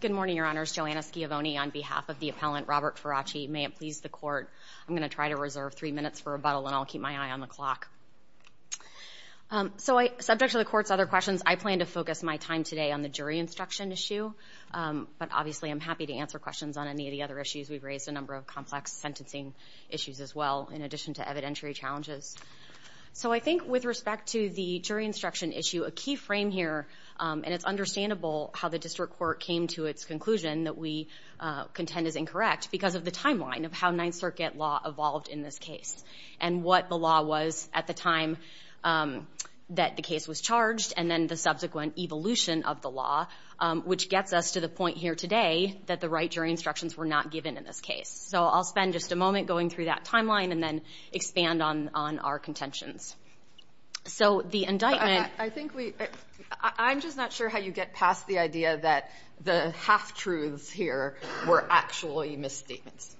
Good morning, Your Honors. Joanna Schiavone on behalf of the appellant Robert Farrace. May it please the Court, I'm going to try to reserve three minutes for rebuttal and I'll keep my eye on the clock. So subject to the Court's other questions, I plan to focus my time today on the jury instruction issue. But obviously I'm happy to answer questions on any of the other issues. We've raised a number of complex sentencing issues as well, in addition to evidentiary challenges. So I think with respect to the jury instruction issue, and it's understandable how the District Court came to its conclusion that we contend is incorrect, because of the timeline of how Ninth Circuit law evolved in this case and what the law was at the time that the case was charged, and then the subsequent evolution of the law, which gets us to the point here today that the right jury instructions were not given in this case. So I'll spend just a moment going through that timeline and then expand on our contentions. So the indictment... I'm just not sure how you get past the idea that the half-truths here were actually misstatements.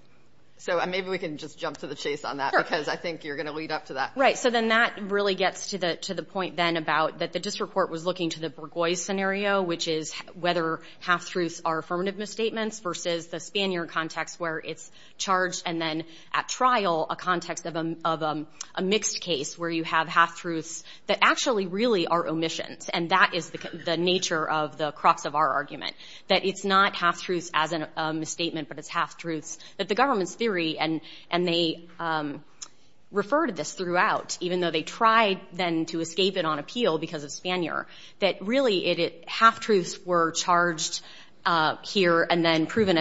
So maybe we can just jump to the chase on that because I think you're going to lead up to that. Right. So then that really gets to the point then about that the District Court was looking to the Burgoyne scenario, which is whether half-truths are affirmative misstatements versus the Spanier context where it's charged and then at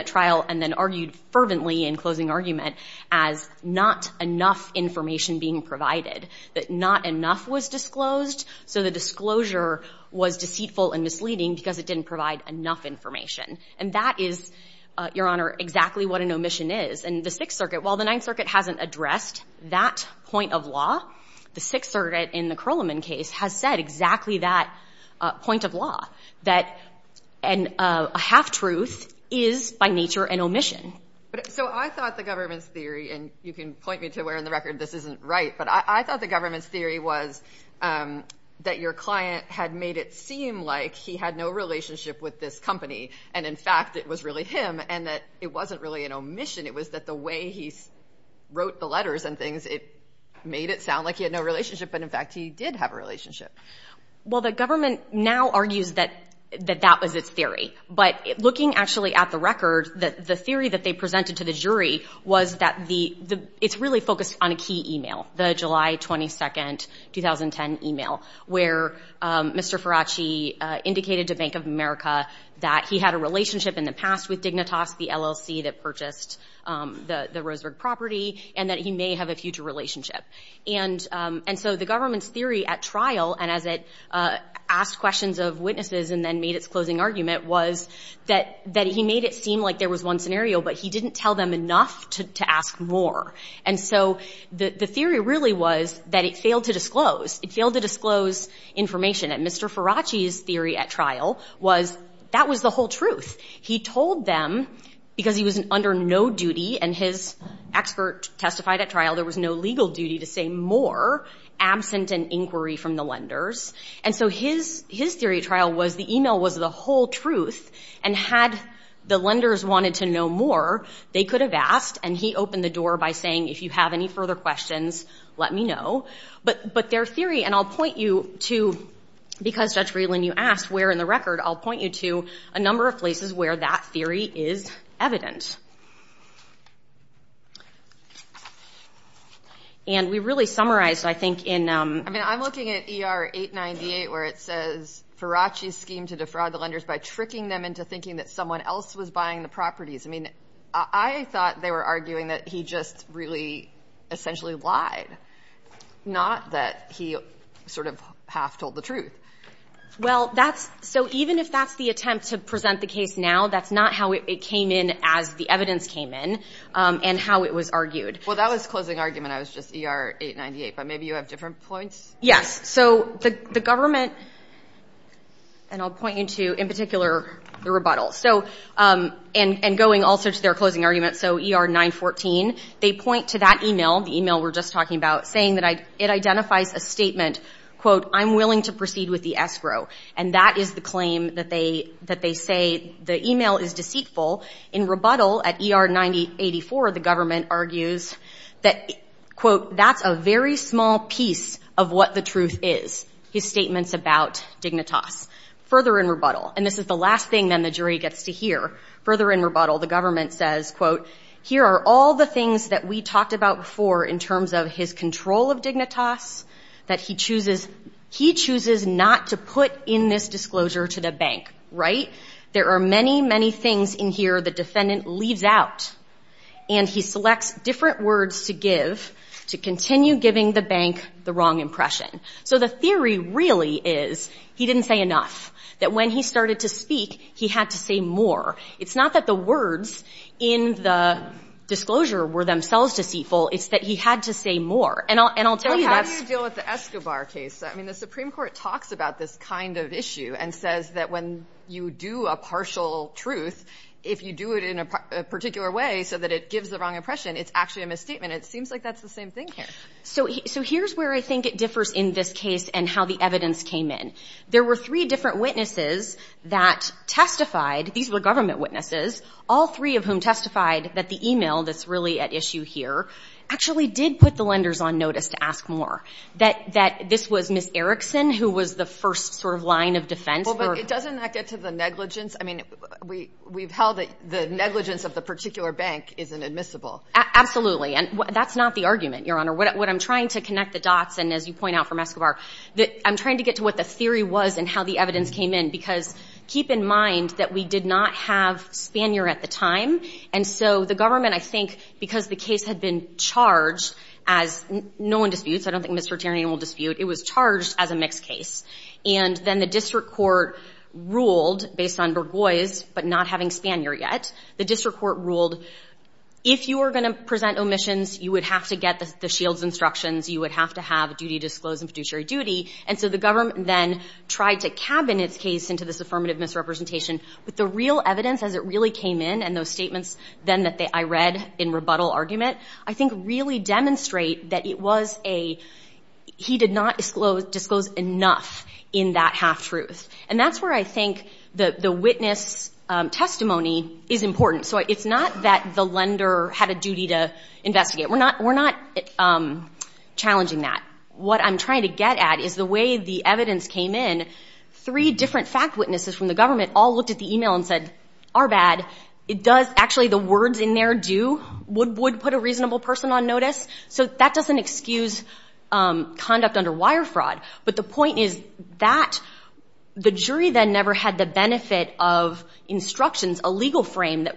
trial and then argued fervently in closing argument as not enough information being provided. That not enough was disclosed, so the disclosure was deceitful and misleading because it didn't provide enough information. And that is, Your Honor, exactly what an omission is. And the Sixth Circuit, while the Ninth Circuit hasn't addressed that point of law, the Sixth Circuit in the Curleman case has said exactly that point of law, that a half-truth is by nature an omission. So I thought the government's theory, and you can point me to where in the record this isn't right, but I thought the government's theory was that your client had made it seem like he had no relationship with this company, and in fact it was really him, and that it wasn't really an omission. It was that the way he wrote the letters and things, it made it sound like he had no relationship, but in fact he did have a relationship. Well, the government now argues that that was its theory. But looking actually at the record, the theory that they put forth in the July 22, 2010 email, where Mr. Faraci indicated to Bank of America that he had a relationship in the past with Dignitas, the LLC that purchased the Roseburg property, and that he may have a future relationship. And so the government's theory at trial, and as it asked questions of witnesses and then made its closing argument, was that he made it seem like there was one scenario, but he didn't tell them enough to ask more. And so the theory really was that it failed to disclose. It failed to disclose information. And Mr. Faraci's theory at trial was that was the whole truth. He told them, because he was under no duty, and his expert testified at trial, there was no legal duty to say more, absent an inquiry from the lenders. And so his theory at trial was the email was the whole truth, and had the lenders wanted to know more, they could have asked, and he opened the door by saying, if you have any further questions, let me know. But their theory, and I'll point you to, because Judge Freeland, you asked where in the record, I'll point you to a number of places where that theory is evident. And we really summarized, I think, in... I mean, I'm looking at ER 898, where it says, Faraci's scheme to defraud the lenders by tricking them into thinking that someone else was lying. They were arguing that he just really essentially lied. Not that he sort of half told the truth. Well, so even if that's the attempt to present the case now, that's not how it came in as the evidence came in, and how it was argued. Well, that was closing argument. I was just ER 898, but maybe you have different points? Yes. So the government, and I'll point you to, in particular, the rebuttal. So, and going also to their closing argument, so ER 914, they point to that email, the email we're just talking about, saying that it identifies a statement, quote, I'm willing to proceed with the escrow. And that is the claim that they say the email is deceitful. In rebuttal, at ER 984, the government argues that, quote, that's a very small piece of what the truth is. His statements about Dignitas. Further in rebuttal, and this is the last thing then the jury gets to hear, further in rebuttal, the government says, quote, here are all the things that we talked about before in terms of his control of Dignitas, that he chooses, he chooses not to put in this disclosure to the bank. Right? There are many, many things in here the defendant leaves out, and he selects different words to give to continue giving the bank the money. So the theory really is, he didn't say enough. That when he started to speak, he had to say more. It's not that the words in the disclosure were themselves deceitful, it's that he had to say more. And I'll tell you that's How do you deal with the Escobar case? I mean, the Supreme Court talks about this kind of issue and says that when you do a partial truth, if you do it in a particular way so that it gives the wrong impression, it's actually a misstatement. And it seems like that's the same thing here. So here's where I think it differs in this case and how the evidence came in. There were three different witnesses that testified, these were government witnesses, all three of whom testified that the e-mail that's really at issue here actually did put the lenders on notice to ask more. That this was Ms. Erickson who was the first sort of line of defense. Well, but doesn't that get to the negligence? I mean, we've held that the negligence of the particular bank isn't admissible. Absolutely. And that's not the argument, Your Honor. What I'm trying to connect the dots, and as you point out from Escobar, I'm trying to get to what the theory was and how the evidence came in. Because keep in mind that we did not have Spanier at the time. And so the government, I think, because the case had been charged as no one disputes, I don't think Mr. Tierney will dispute, it was charged as a mixed case. And then the district court ruled based on Burgoyse but not having Spanier yet, the district court ruled if you were going to present omissions, you would have to get the Shields instructions, you would have to have a duty disclosed and fiduciary duty. And so the government then tried to cabin its case into this affirmative misrepresentation. But the real evidence as it really came in and those statements then that I read in rebuttal argument, I think really demonstrate that it was a, he did not disclose enough in that half-truth. And that's where I think the witness testimony is important. So it's not that the lender had a duty to investigate. We're not challenging that. What I'm trying to get at is the way the evidence came in, three different fact witnesses from the government all looked at the e-mail and said, are bad. It does, actually the words in there do, would put a reasonable person on notice. So that doesn't excuse conduct under wire fraud. But the point is that the jury then never had the benefit of, you know, making a case that was based on instructions, a legal frame that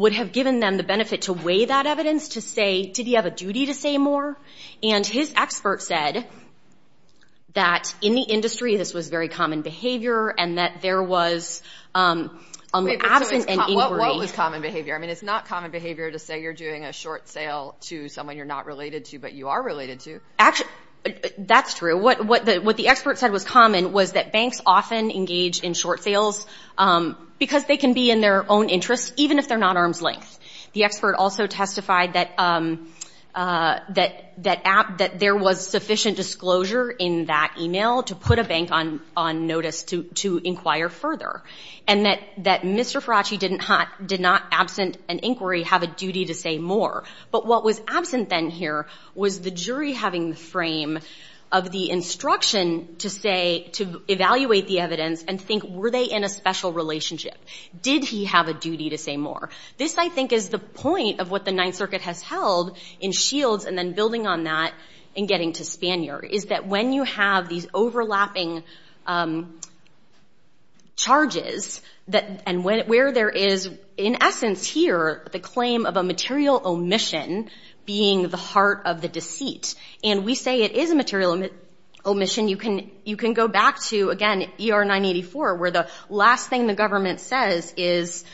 would have given them the benefit to weigh that evidence to say, did he have a duty to say more? And his expert said that in the industry this was very common behavior and that there was an absent and inquiry. What was common behavior? I mean, it's not common behavior to say you're doing a short sale to someone you're not related to, but you are related to. Actually, that's true. What the expert said was common was that banks often engage in short sales because they can be in their own interests, even if they're not arm's length. The expert also testified that there was sufficient disclosure in that e-mail to put a bank on notice to inquire further. And that Mr. Faraci did not, absent an inquiry, have a duty to say more. But what was common was the jury having the frame of the instruction to say, to evaluate the evidence and think, were they in a special relationship? Did he have a duty to say more? This, I think, is the point of what the Ninth Circuit has held in Shields and then building on that in getting to Spanier, is that when you have these overlapping charges and where there is, in essence here, the claim of a material omission being the heart of the deceit, and we say it is a material omission, you can go back to, again, ER 984, where the last thing the government says is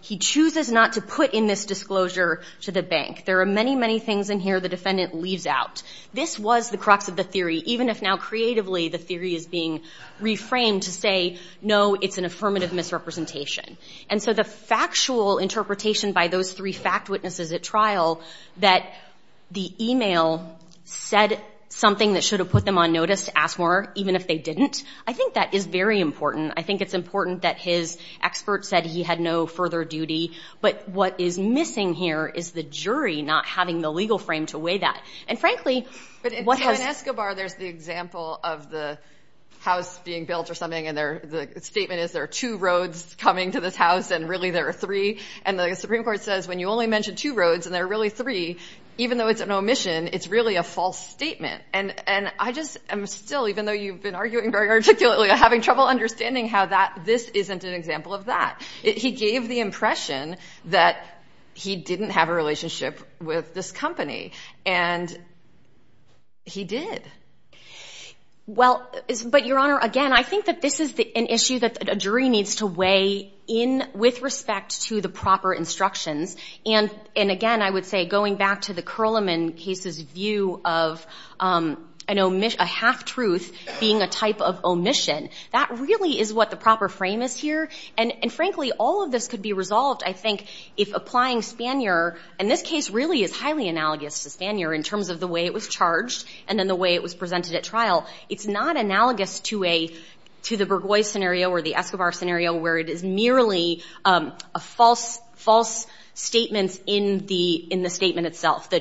he chooses not to put in this disclosure to the bank. There are many, many things in here the defendant leaves out. This was the crux of the theory, even if now creatively the theory is being reframed to say, no, it's an affirmative misrepresentation. And so the factual interpretation by those three fact witnesses at trial, that the e-mail said something that should have put them on notice to ask more, even if they didn't, I think that is very important. I think it's important that his expert said he had no further duty, but what is missing here is the jury not having the legal frame to weigh that. And frankly, what has... I mean, the Supreme Court has said that there are three roads in this house, and really there are three. And the Supreme Court says when you only mention two roads, and there are really three, even though it's an omission, it's really a false statement. And I just am still, even though you've been arguing very articulately, I'm having trouble understanding how this isn't an example of that. He gave the impression that he didn't have a relationship with this company. And he did. Well, but, Your Honor, again, I think that this is an issue that a jury needs to weigh in with respect to the proper instructions. And again, I would say, going back to the Curliman case's view of a half-truth being a type of omission, that really is what the proper frame is here. And frankly, all of this could be resolved, I think, if applying Spanier, and this case really is highly analogous to Spanier in terms of the way it was charged and then the way it was presented at trial. It's not analogous to the Burgoyne scenario or the Escobar scenario, where it is merely a false statement in the statement itself, the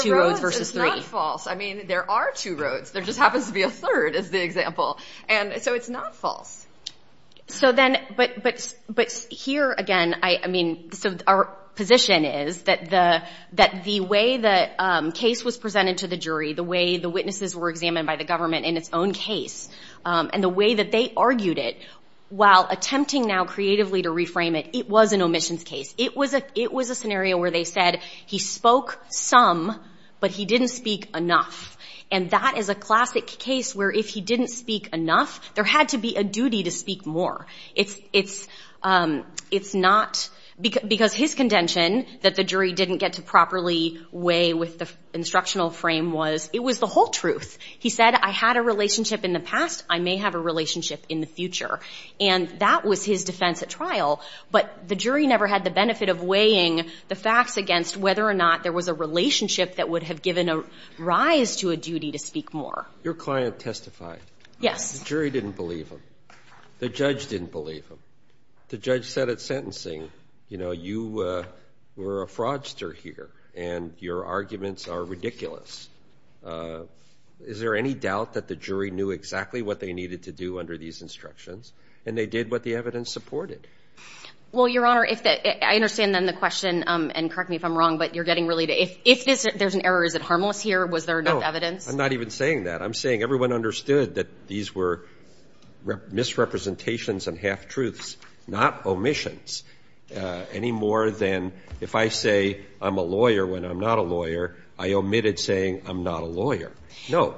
two roads versus three. The roads is not false. I mean, there are two roads. There just happens to be a third, is the example. And so it's not false. So then, but here again, I mean, our position is that the way the case was presented to the jury, the way the witnesses were examined by the government in its own case, and the way that they argued it, while attempting now creatively to reframe it, it was an omissions case. It was a scenario where they said, he spoke some, but he didn't speak enough. And that is a classic case where if he didn't speak enough, there had to be a duty to speak more. It's not, because his contention that the jury didn't get to properly weigh with the instructional frame was, it was the whole truth. He said, I had a relationship in the past, I may have a relationship in the future. But the jury never had the benefit of weighing the facts against whether or not there was a relationship that would have given a rise to a duty to speak more. Your client testified. Yes. The jury didn't believe him. The judge didn't believe him. The judge said at sentencing, you know, you were a fraudster here, and your arguments are ridiculous. Is there any doubt that the jury knew exactly what they were doing? Well, Your Honor, I understand then the question, and correct me if I'm wrong, but you're getting really, if there's an error, is it harmless here? Was there enough evidence? No. I'm not even saying that. I'm saying everyone understood that these were misrepresentations and half-truths, not omissions, any more than if I say I'm a lawyer when I'm not a lawyer, I omitted saying I'm not a lawyer. No.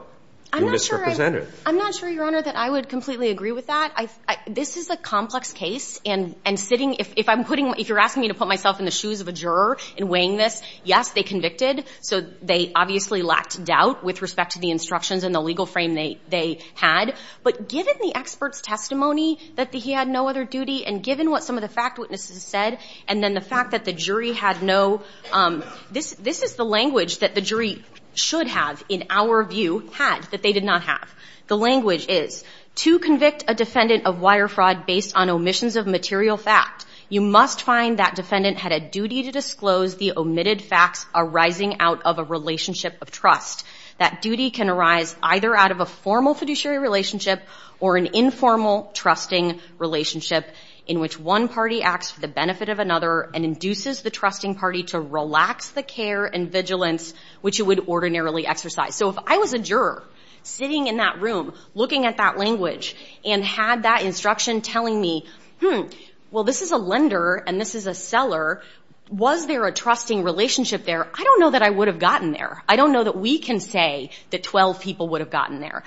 I'm not sure, Your Honor, that I would completely agree with that. This is a complex case, and sitting, if I'm putting, if you're asking me to put myself in the shoes of a juror in weighing this, yes, they convicted, so they obviously lacked doubt with respect to the instructions and the legal frame they had. But given the expert's testimony that he had no other duty, and given what some of the fact witnesses said, and then the fact that the jury had no, this is the language that the jury should have, in our view, had that they did not have, the language is, to convict a defendant of wire fraud based on omissions of material fact, you must find that defendant had a duty to disclose the omitted facts arising out of a relationship of trust. That duty can arise either out of a formal fiduciary relationship or an informal trusting relationship in which one party acts for the benefit of another and induces the trusting party to relax the care and trust that the other party has, which it would ordinarily exercise. So if I was a juror sitting in that room, looking at that language, and had that instruction telling me, hmm, well, this is a lender and this is a seller, was there a trusting relationship there, I don't know that I would have gotten there. I don't know that we can say that 12 people would have gotten there.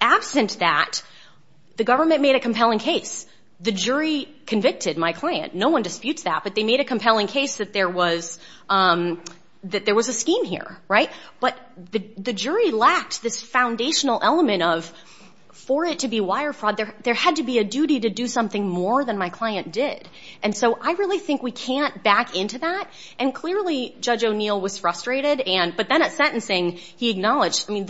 Absent that, the government made a compelling case. The jury convicted my client. No one disputes that, but they made a case, right? But the jury lacked this foundational element of, for it to be wire fraud, there had to be a duty to do something more than my client did. And so I really think we can't back into that, and clearly Judge O'Neill was frustrated, but then at sentencing, he acknowledged, I mean,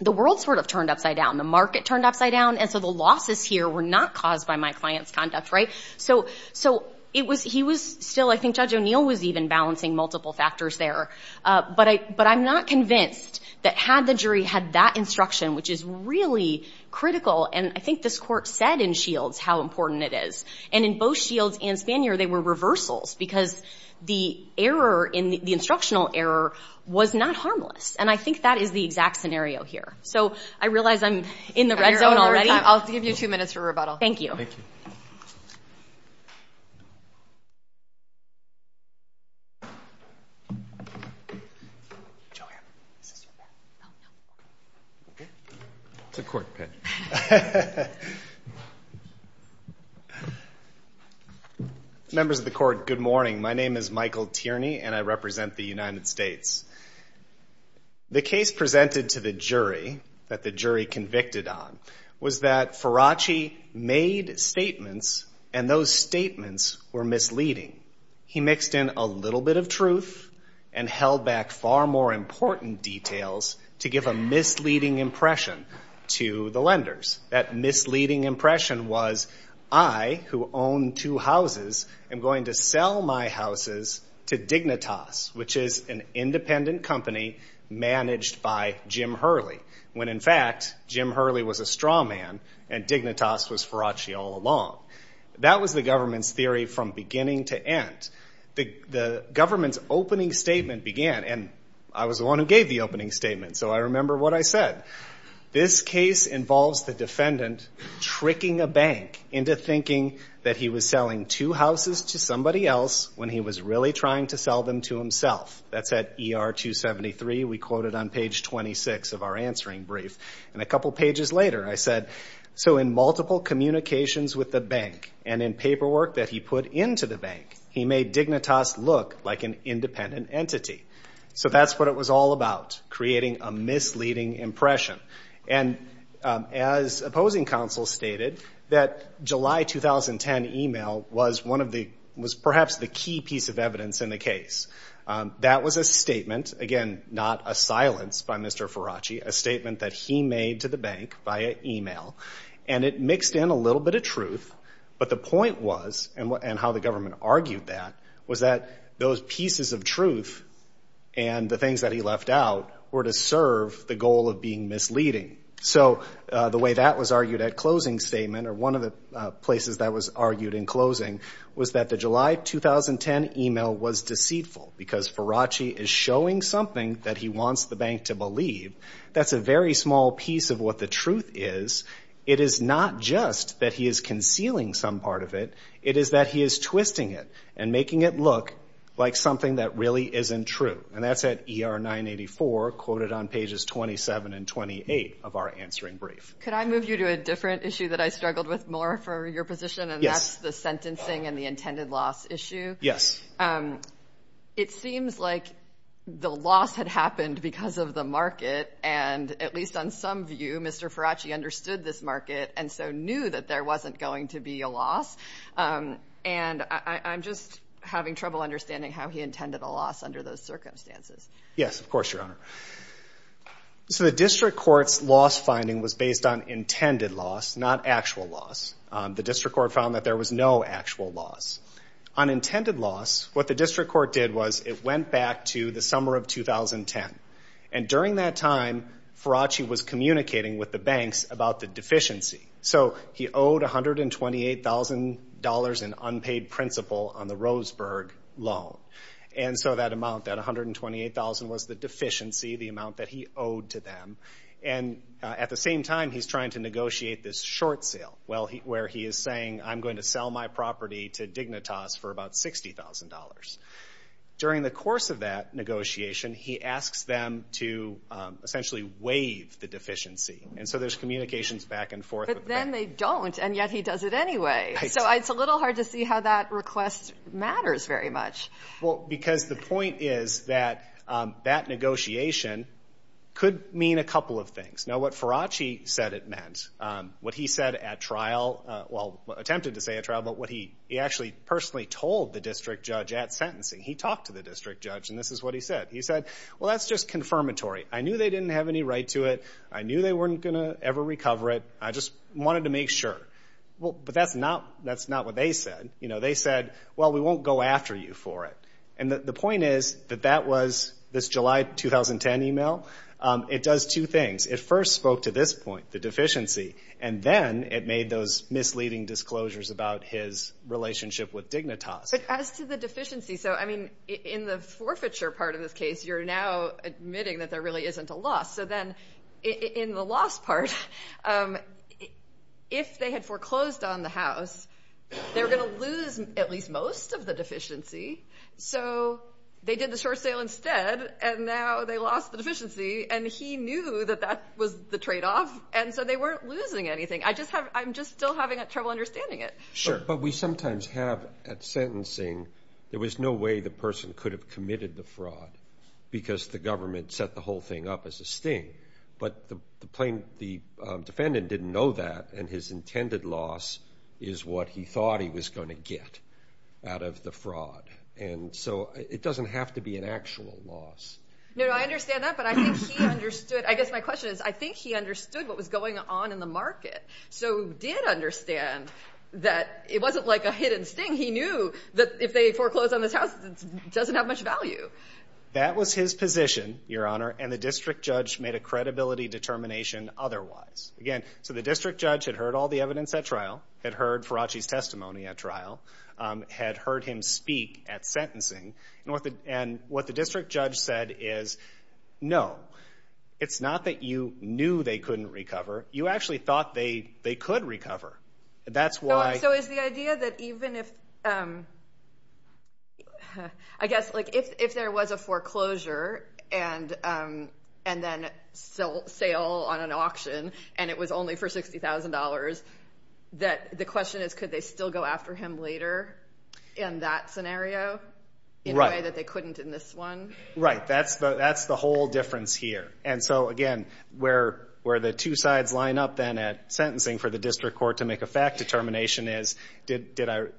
the world sort of turned upside down, the market turned upside down, and so the losses here were not caused by my client's conduct, right? So he was still, I think Judge O'Neill was even balancing multiple factors there. But I'm not convinced that had the jury had that instruction, which is really critical, and I think this Court said in Shields how important it is, and in both Shields and Spanier, they were reversals, because the error, the instructional error was not harmless, and I think that is the exact scenario here. So I realize I'm in the red zone already. I'll give you two minutes for rebuttal. Thank you. Members of the Court, good morning. My name is Michael Tierney, and I represent the United States. The case presented to the jury, that the jury convicted on, was that Faraci made statements, and those statements were misleading. He mixed in a little bit of truth and held back far more important details to give a misleading impression to the lenders. That misleading impression was, I, who own two houses, am going to sell my houses to Dignitas, which is an independent company managed by Jim Hurley, when in fact Jim Hurley was a straw man, and Dignitas was Faraci all along. That was the government's theory from beginning to end. The government's opening statement began, and I was the one who gave the opening statement, so I remember what I said. This case involves the defendant tricking a bank into thinking that he was selling two houses to somebody else when he was really trying to sell them to himself. That's at ER 273. We quote it on page 26 of our answering brief, and a couple pages later I said, so in multiple communications with the bank, and in paperwork that he put into the bank, he made Dignitas look like an independent entity. So that's what it was all about, creating a misleading impression. And as opposing counsel stated, that July 2010 email was perhaps the key piece of evidence in the case. That was a statement, again not a silence by Mr. Faraci, a statement that he made to the bank via email, and it mixed in a little bit of truth, but the point was, and how the government argued that, was that those pieces of truth and the things that he left out were to serve the goal of being a bank, and one of the pieces that was argued in closing was that the July 2010 email was deceitful, because Faraci is showing something that he wants the bank to believe. That's a very small piece of what the truth is. It is not just that he is concealing some part of it, it is that he is twisting it and making it look like something that really isn't true. And that's at ER 984, quoted on pages 27 and 28 of our answering brief. Could I move you to a different issue that I struggled with more for your position, and that's the sentencing and the intended loss issue? Yes. It seems like the loss had happened because of the market, and at least on some view, Mr. Faraci understood this market and so knew that there wasn't going to be a loss, and I'm just having trouble understanding how he intended a loss under those circumstances. Yes, of course, Your Honor. So the district court's loss finding was based on intended loss, not actual loss. The district court found that there was no actual loss. On intended loss, what the district court did was it went back to the summer of 2010, and during that time, Faraci was communicating with the banks about the deficiency. So he owed $128,000 in unpaid principal on the Roseburg loan, and so that amount, that $128,000, was the $128,000. And so he's trying to negotiate this short sale, where he is saying, I'm going to sell my property to Dignitas for about $60,000. During the course of that negotiation, he asks them to essentially waive the deficiency, and so there's communications back and forth. But then they don't, and yet he does it anyway. So it's a little hard to see how that request matters very much. Well, because the point is that that negotiation could mean a couple of things. Now, what Faraci said it meant, what he said at trial, well, attempted to say at trial, but what he actually personally told the district judge at sentencing. He talked to the district judge, and this is what he said. He said, well, that's just confirmatory. I knew they didn't have any right to it. I knew they weren't going to ever recover it. I just wanted to make sure. Well, but that's not what they said. You know, they said, well, we won't go after you for it. And the point is that that was this July 2010 email. It does two things. It first spoke to this point, the deficiency, and then it made those misleading disclosures about his relationship with Dignitas. But as to the deficiency, so, I mean, in the forfeiture part of this case, you're now admitting that there really isn't a loss. So then in the loss part, if they had foreclosed on the house, they were going to lose at least most of the deficiency. So they did the short sale instead, and now they're going to lose the deficiency. And he knew that that was the tradeoff, and so they weren't losing anything. I just have, I'm just still having trouble understanding it. Sure. But we sometimes have at sentencing, there was no way the person could have committed the fraud because the government set the whole thing up as a sting. But the defendant didn't know that, and his intended loss is what he thought he was going to get out of the fraud. And so it doesn't have to be an actual loss. No, no, I understand that, but I think he understood, I guess my question is, I think he understood what was going on in the market, so did understand that it wasn't like a hidden sting. He knew that if they foreclosed on this house, it doesn't have much value. That was his position, Your Honor, and the district judge made a credibility determination otherwise. Again, so the district judge had heard all the evidence at trial, had heard Faraci's testimony, and what the judge said is, no, it's not that you knew they couldn't recover, you actually thought they could recover. So is the idea that even if, I guess, if there was a foreclosure and then sale on an auction, and it was only for $60,000, that the question is, could they still go after him later in that scenario, in a way that they could? Right, that's the whole difference here. And so again, where the two sides line up then at sentencing for the district court to make a fact determination is, did Mr.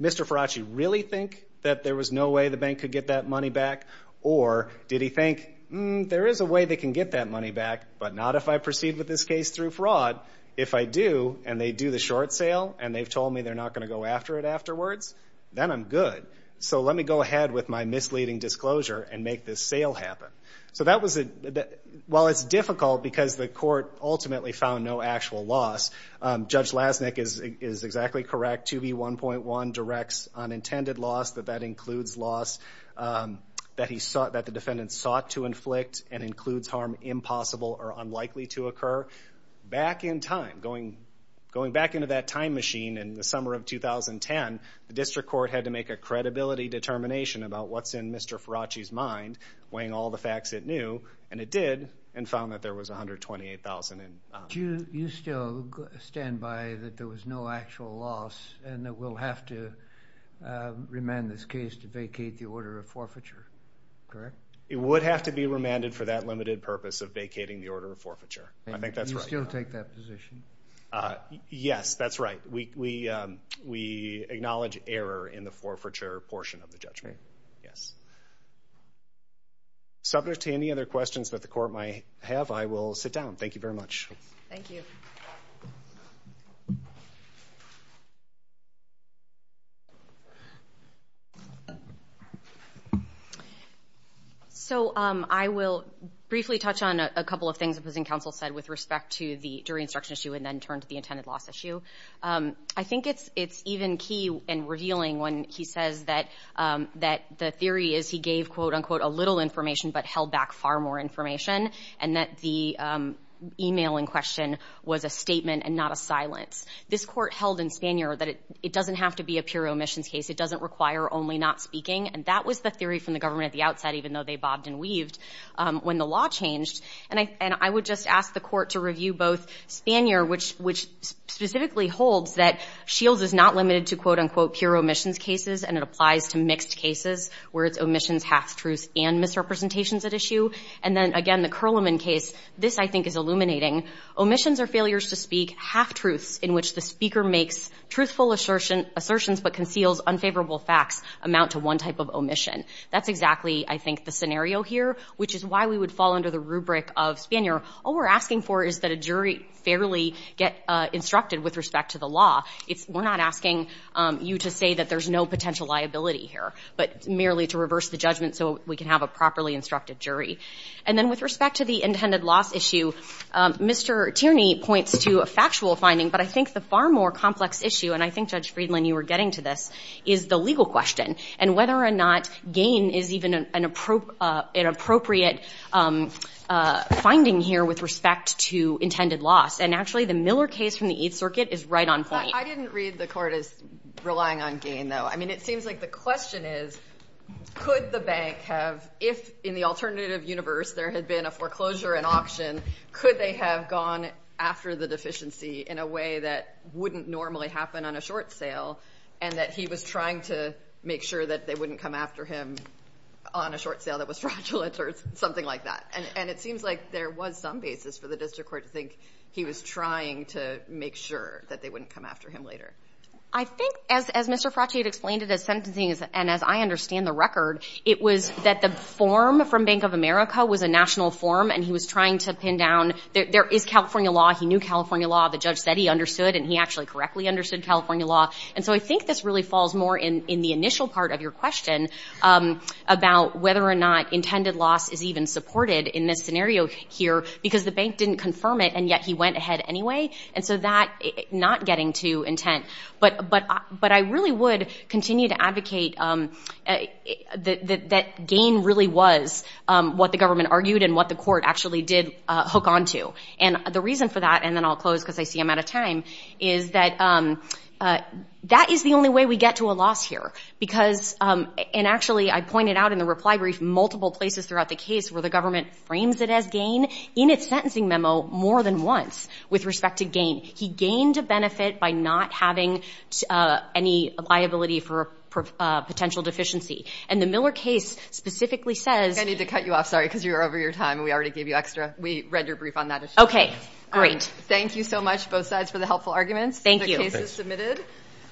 Faraci really think that there was no way the bank could get that money back, or did he think, there is a way they can get that money back, but not if I proceed with this case through fraud. If I do, and they do the short sale, and they've told me they're not going to go after it afterwards, then I'm good. So let me go ahead with my misleading disclosure and make this sale happen. So that was, while it's difficult because the court ultimately found no actual loss, Judge Lasnik is exactly correct, 2B1.1 directs unintended loss, that that includes loss that the defendant sought to inflict and includes harm impossible or unlikely to occur. Back in time, going back into that time machine in the summer of 2010, the district court had to make a credibility determination about what's in Mr. Faraci's mind, weighing all the facts it knew, and it did, and found that there was $128,000 in bond. Do you still stand by that there was no actual loss, and that we'll have to remand this case to vacate the order of forfeiture? Correct. It would have to be remanded for that limited purpose of vacating the order of forfeiture. I think that's right. And you still take that position? Yes, that's right. We acknowledge error in the forfeiture portion of the judgment. Yes. Subject to any other questions that the court might have, I will sit down. Thank you very much. Thank you. So, I will briefly touch on a couple of things the opposing counsel said with respect to the jury instruction issue, and then turn to the intended loss issue. I think it's even key and revealing when he says that the theory is he gave, quote, unquote, a little information, but held back far more information, and that the emailing question was a statement and not a silence. This court held in Spanier that it doesn't have to be a pure omissions case. It doesn't require only not speaking, and that was the theory from the government at the outset, even though they bobbed and weaved, when the law changed. And I would just ask the court to review both Spanier, which specifically holds that Shields is not limited to, quote, unquote, pure omissions cases, and it applies to mixed cases, where it's omissions, half-truths, and misrepresentations at issue. And then, again, the Curliman case. This, I think, is illuminating. Omissions are failures to speak half-truths in which the speaker makes truthful assertions but conceals unfavorable facts amount to one type of omission. That's exactly, I think, the scenario here, which is why we would fall under the rubric of Spanier. All we're asking for is that a jury fairly get instructed with respect to the law. We're not asking you to say that there's no potential liability here, but merely to reverse the judgment so we can have a fair trial. Mr. Tierney points to a factual finding, but I think the far more complex issue, and I think, Judge Friedland, you were getting to this, is the legal question and whether or not gain is even an appropriate finding here with respect to intended loss. And, actually, the Miller case from the Eighth Circuit is right on point. I didn't read the court as relying on gain, though. I mean, it seems like the question is, could the bank have, if in the alternative universe there had been a foreclosure and auction, could they have gone after the deficiency in a way that wouldn't normally happen on a short sale and that he was trying to make sure that they wouldn't come after him on a short sale that was fraudulent or something like that. And it seems like there was some basis for the district court to think he was trying to make sure that they wouldn't come after him later. I think, as Mr. Frachi had explained in his sentencing, and as I understand the record, it was that the form for Bank of America was a national form, and he was trying to pin down, there is California law, he knew California law, the judge said he understood, and he actually correctly understood California law. And so I think this really falls more in the initial part of your question about whether or not intended loss is even supported in this scenario here, because the bank didn't confirm it, and yet he went ahead anyway. And so that, not getting to intent, but I really would continue to advocate that gain really was. What the government argued and what the court actually did hook onto. And the reason for that, and then I'll close because I see I'm out of time, is that that is the only way we get to a loss here. Because, and actually I pointed out in the reply brief, multiple places throughout the case where the government frames it as gain in its sentencing memo more than once with respect to gain. He gained a benefit by not having any liability for potential deficiency. And the Miller case specifically says...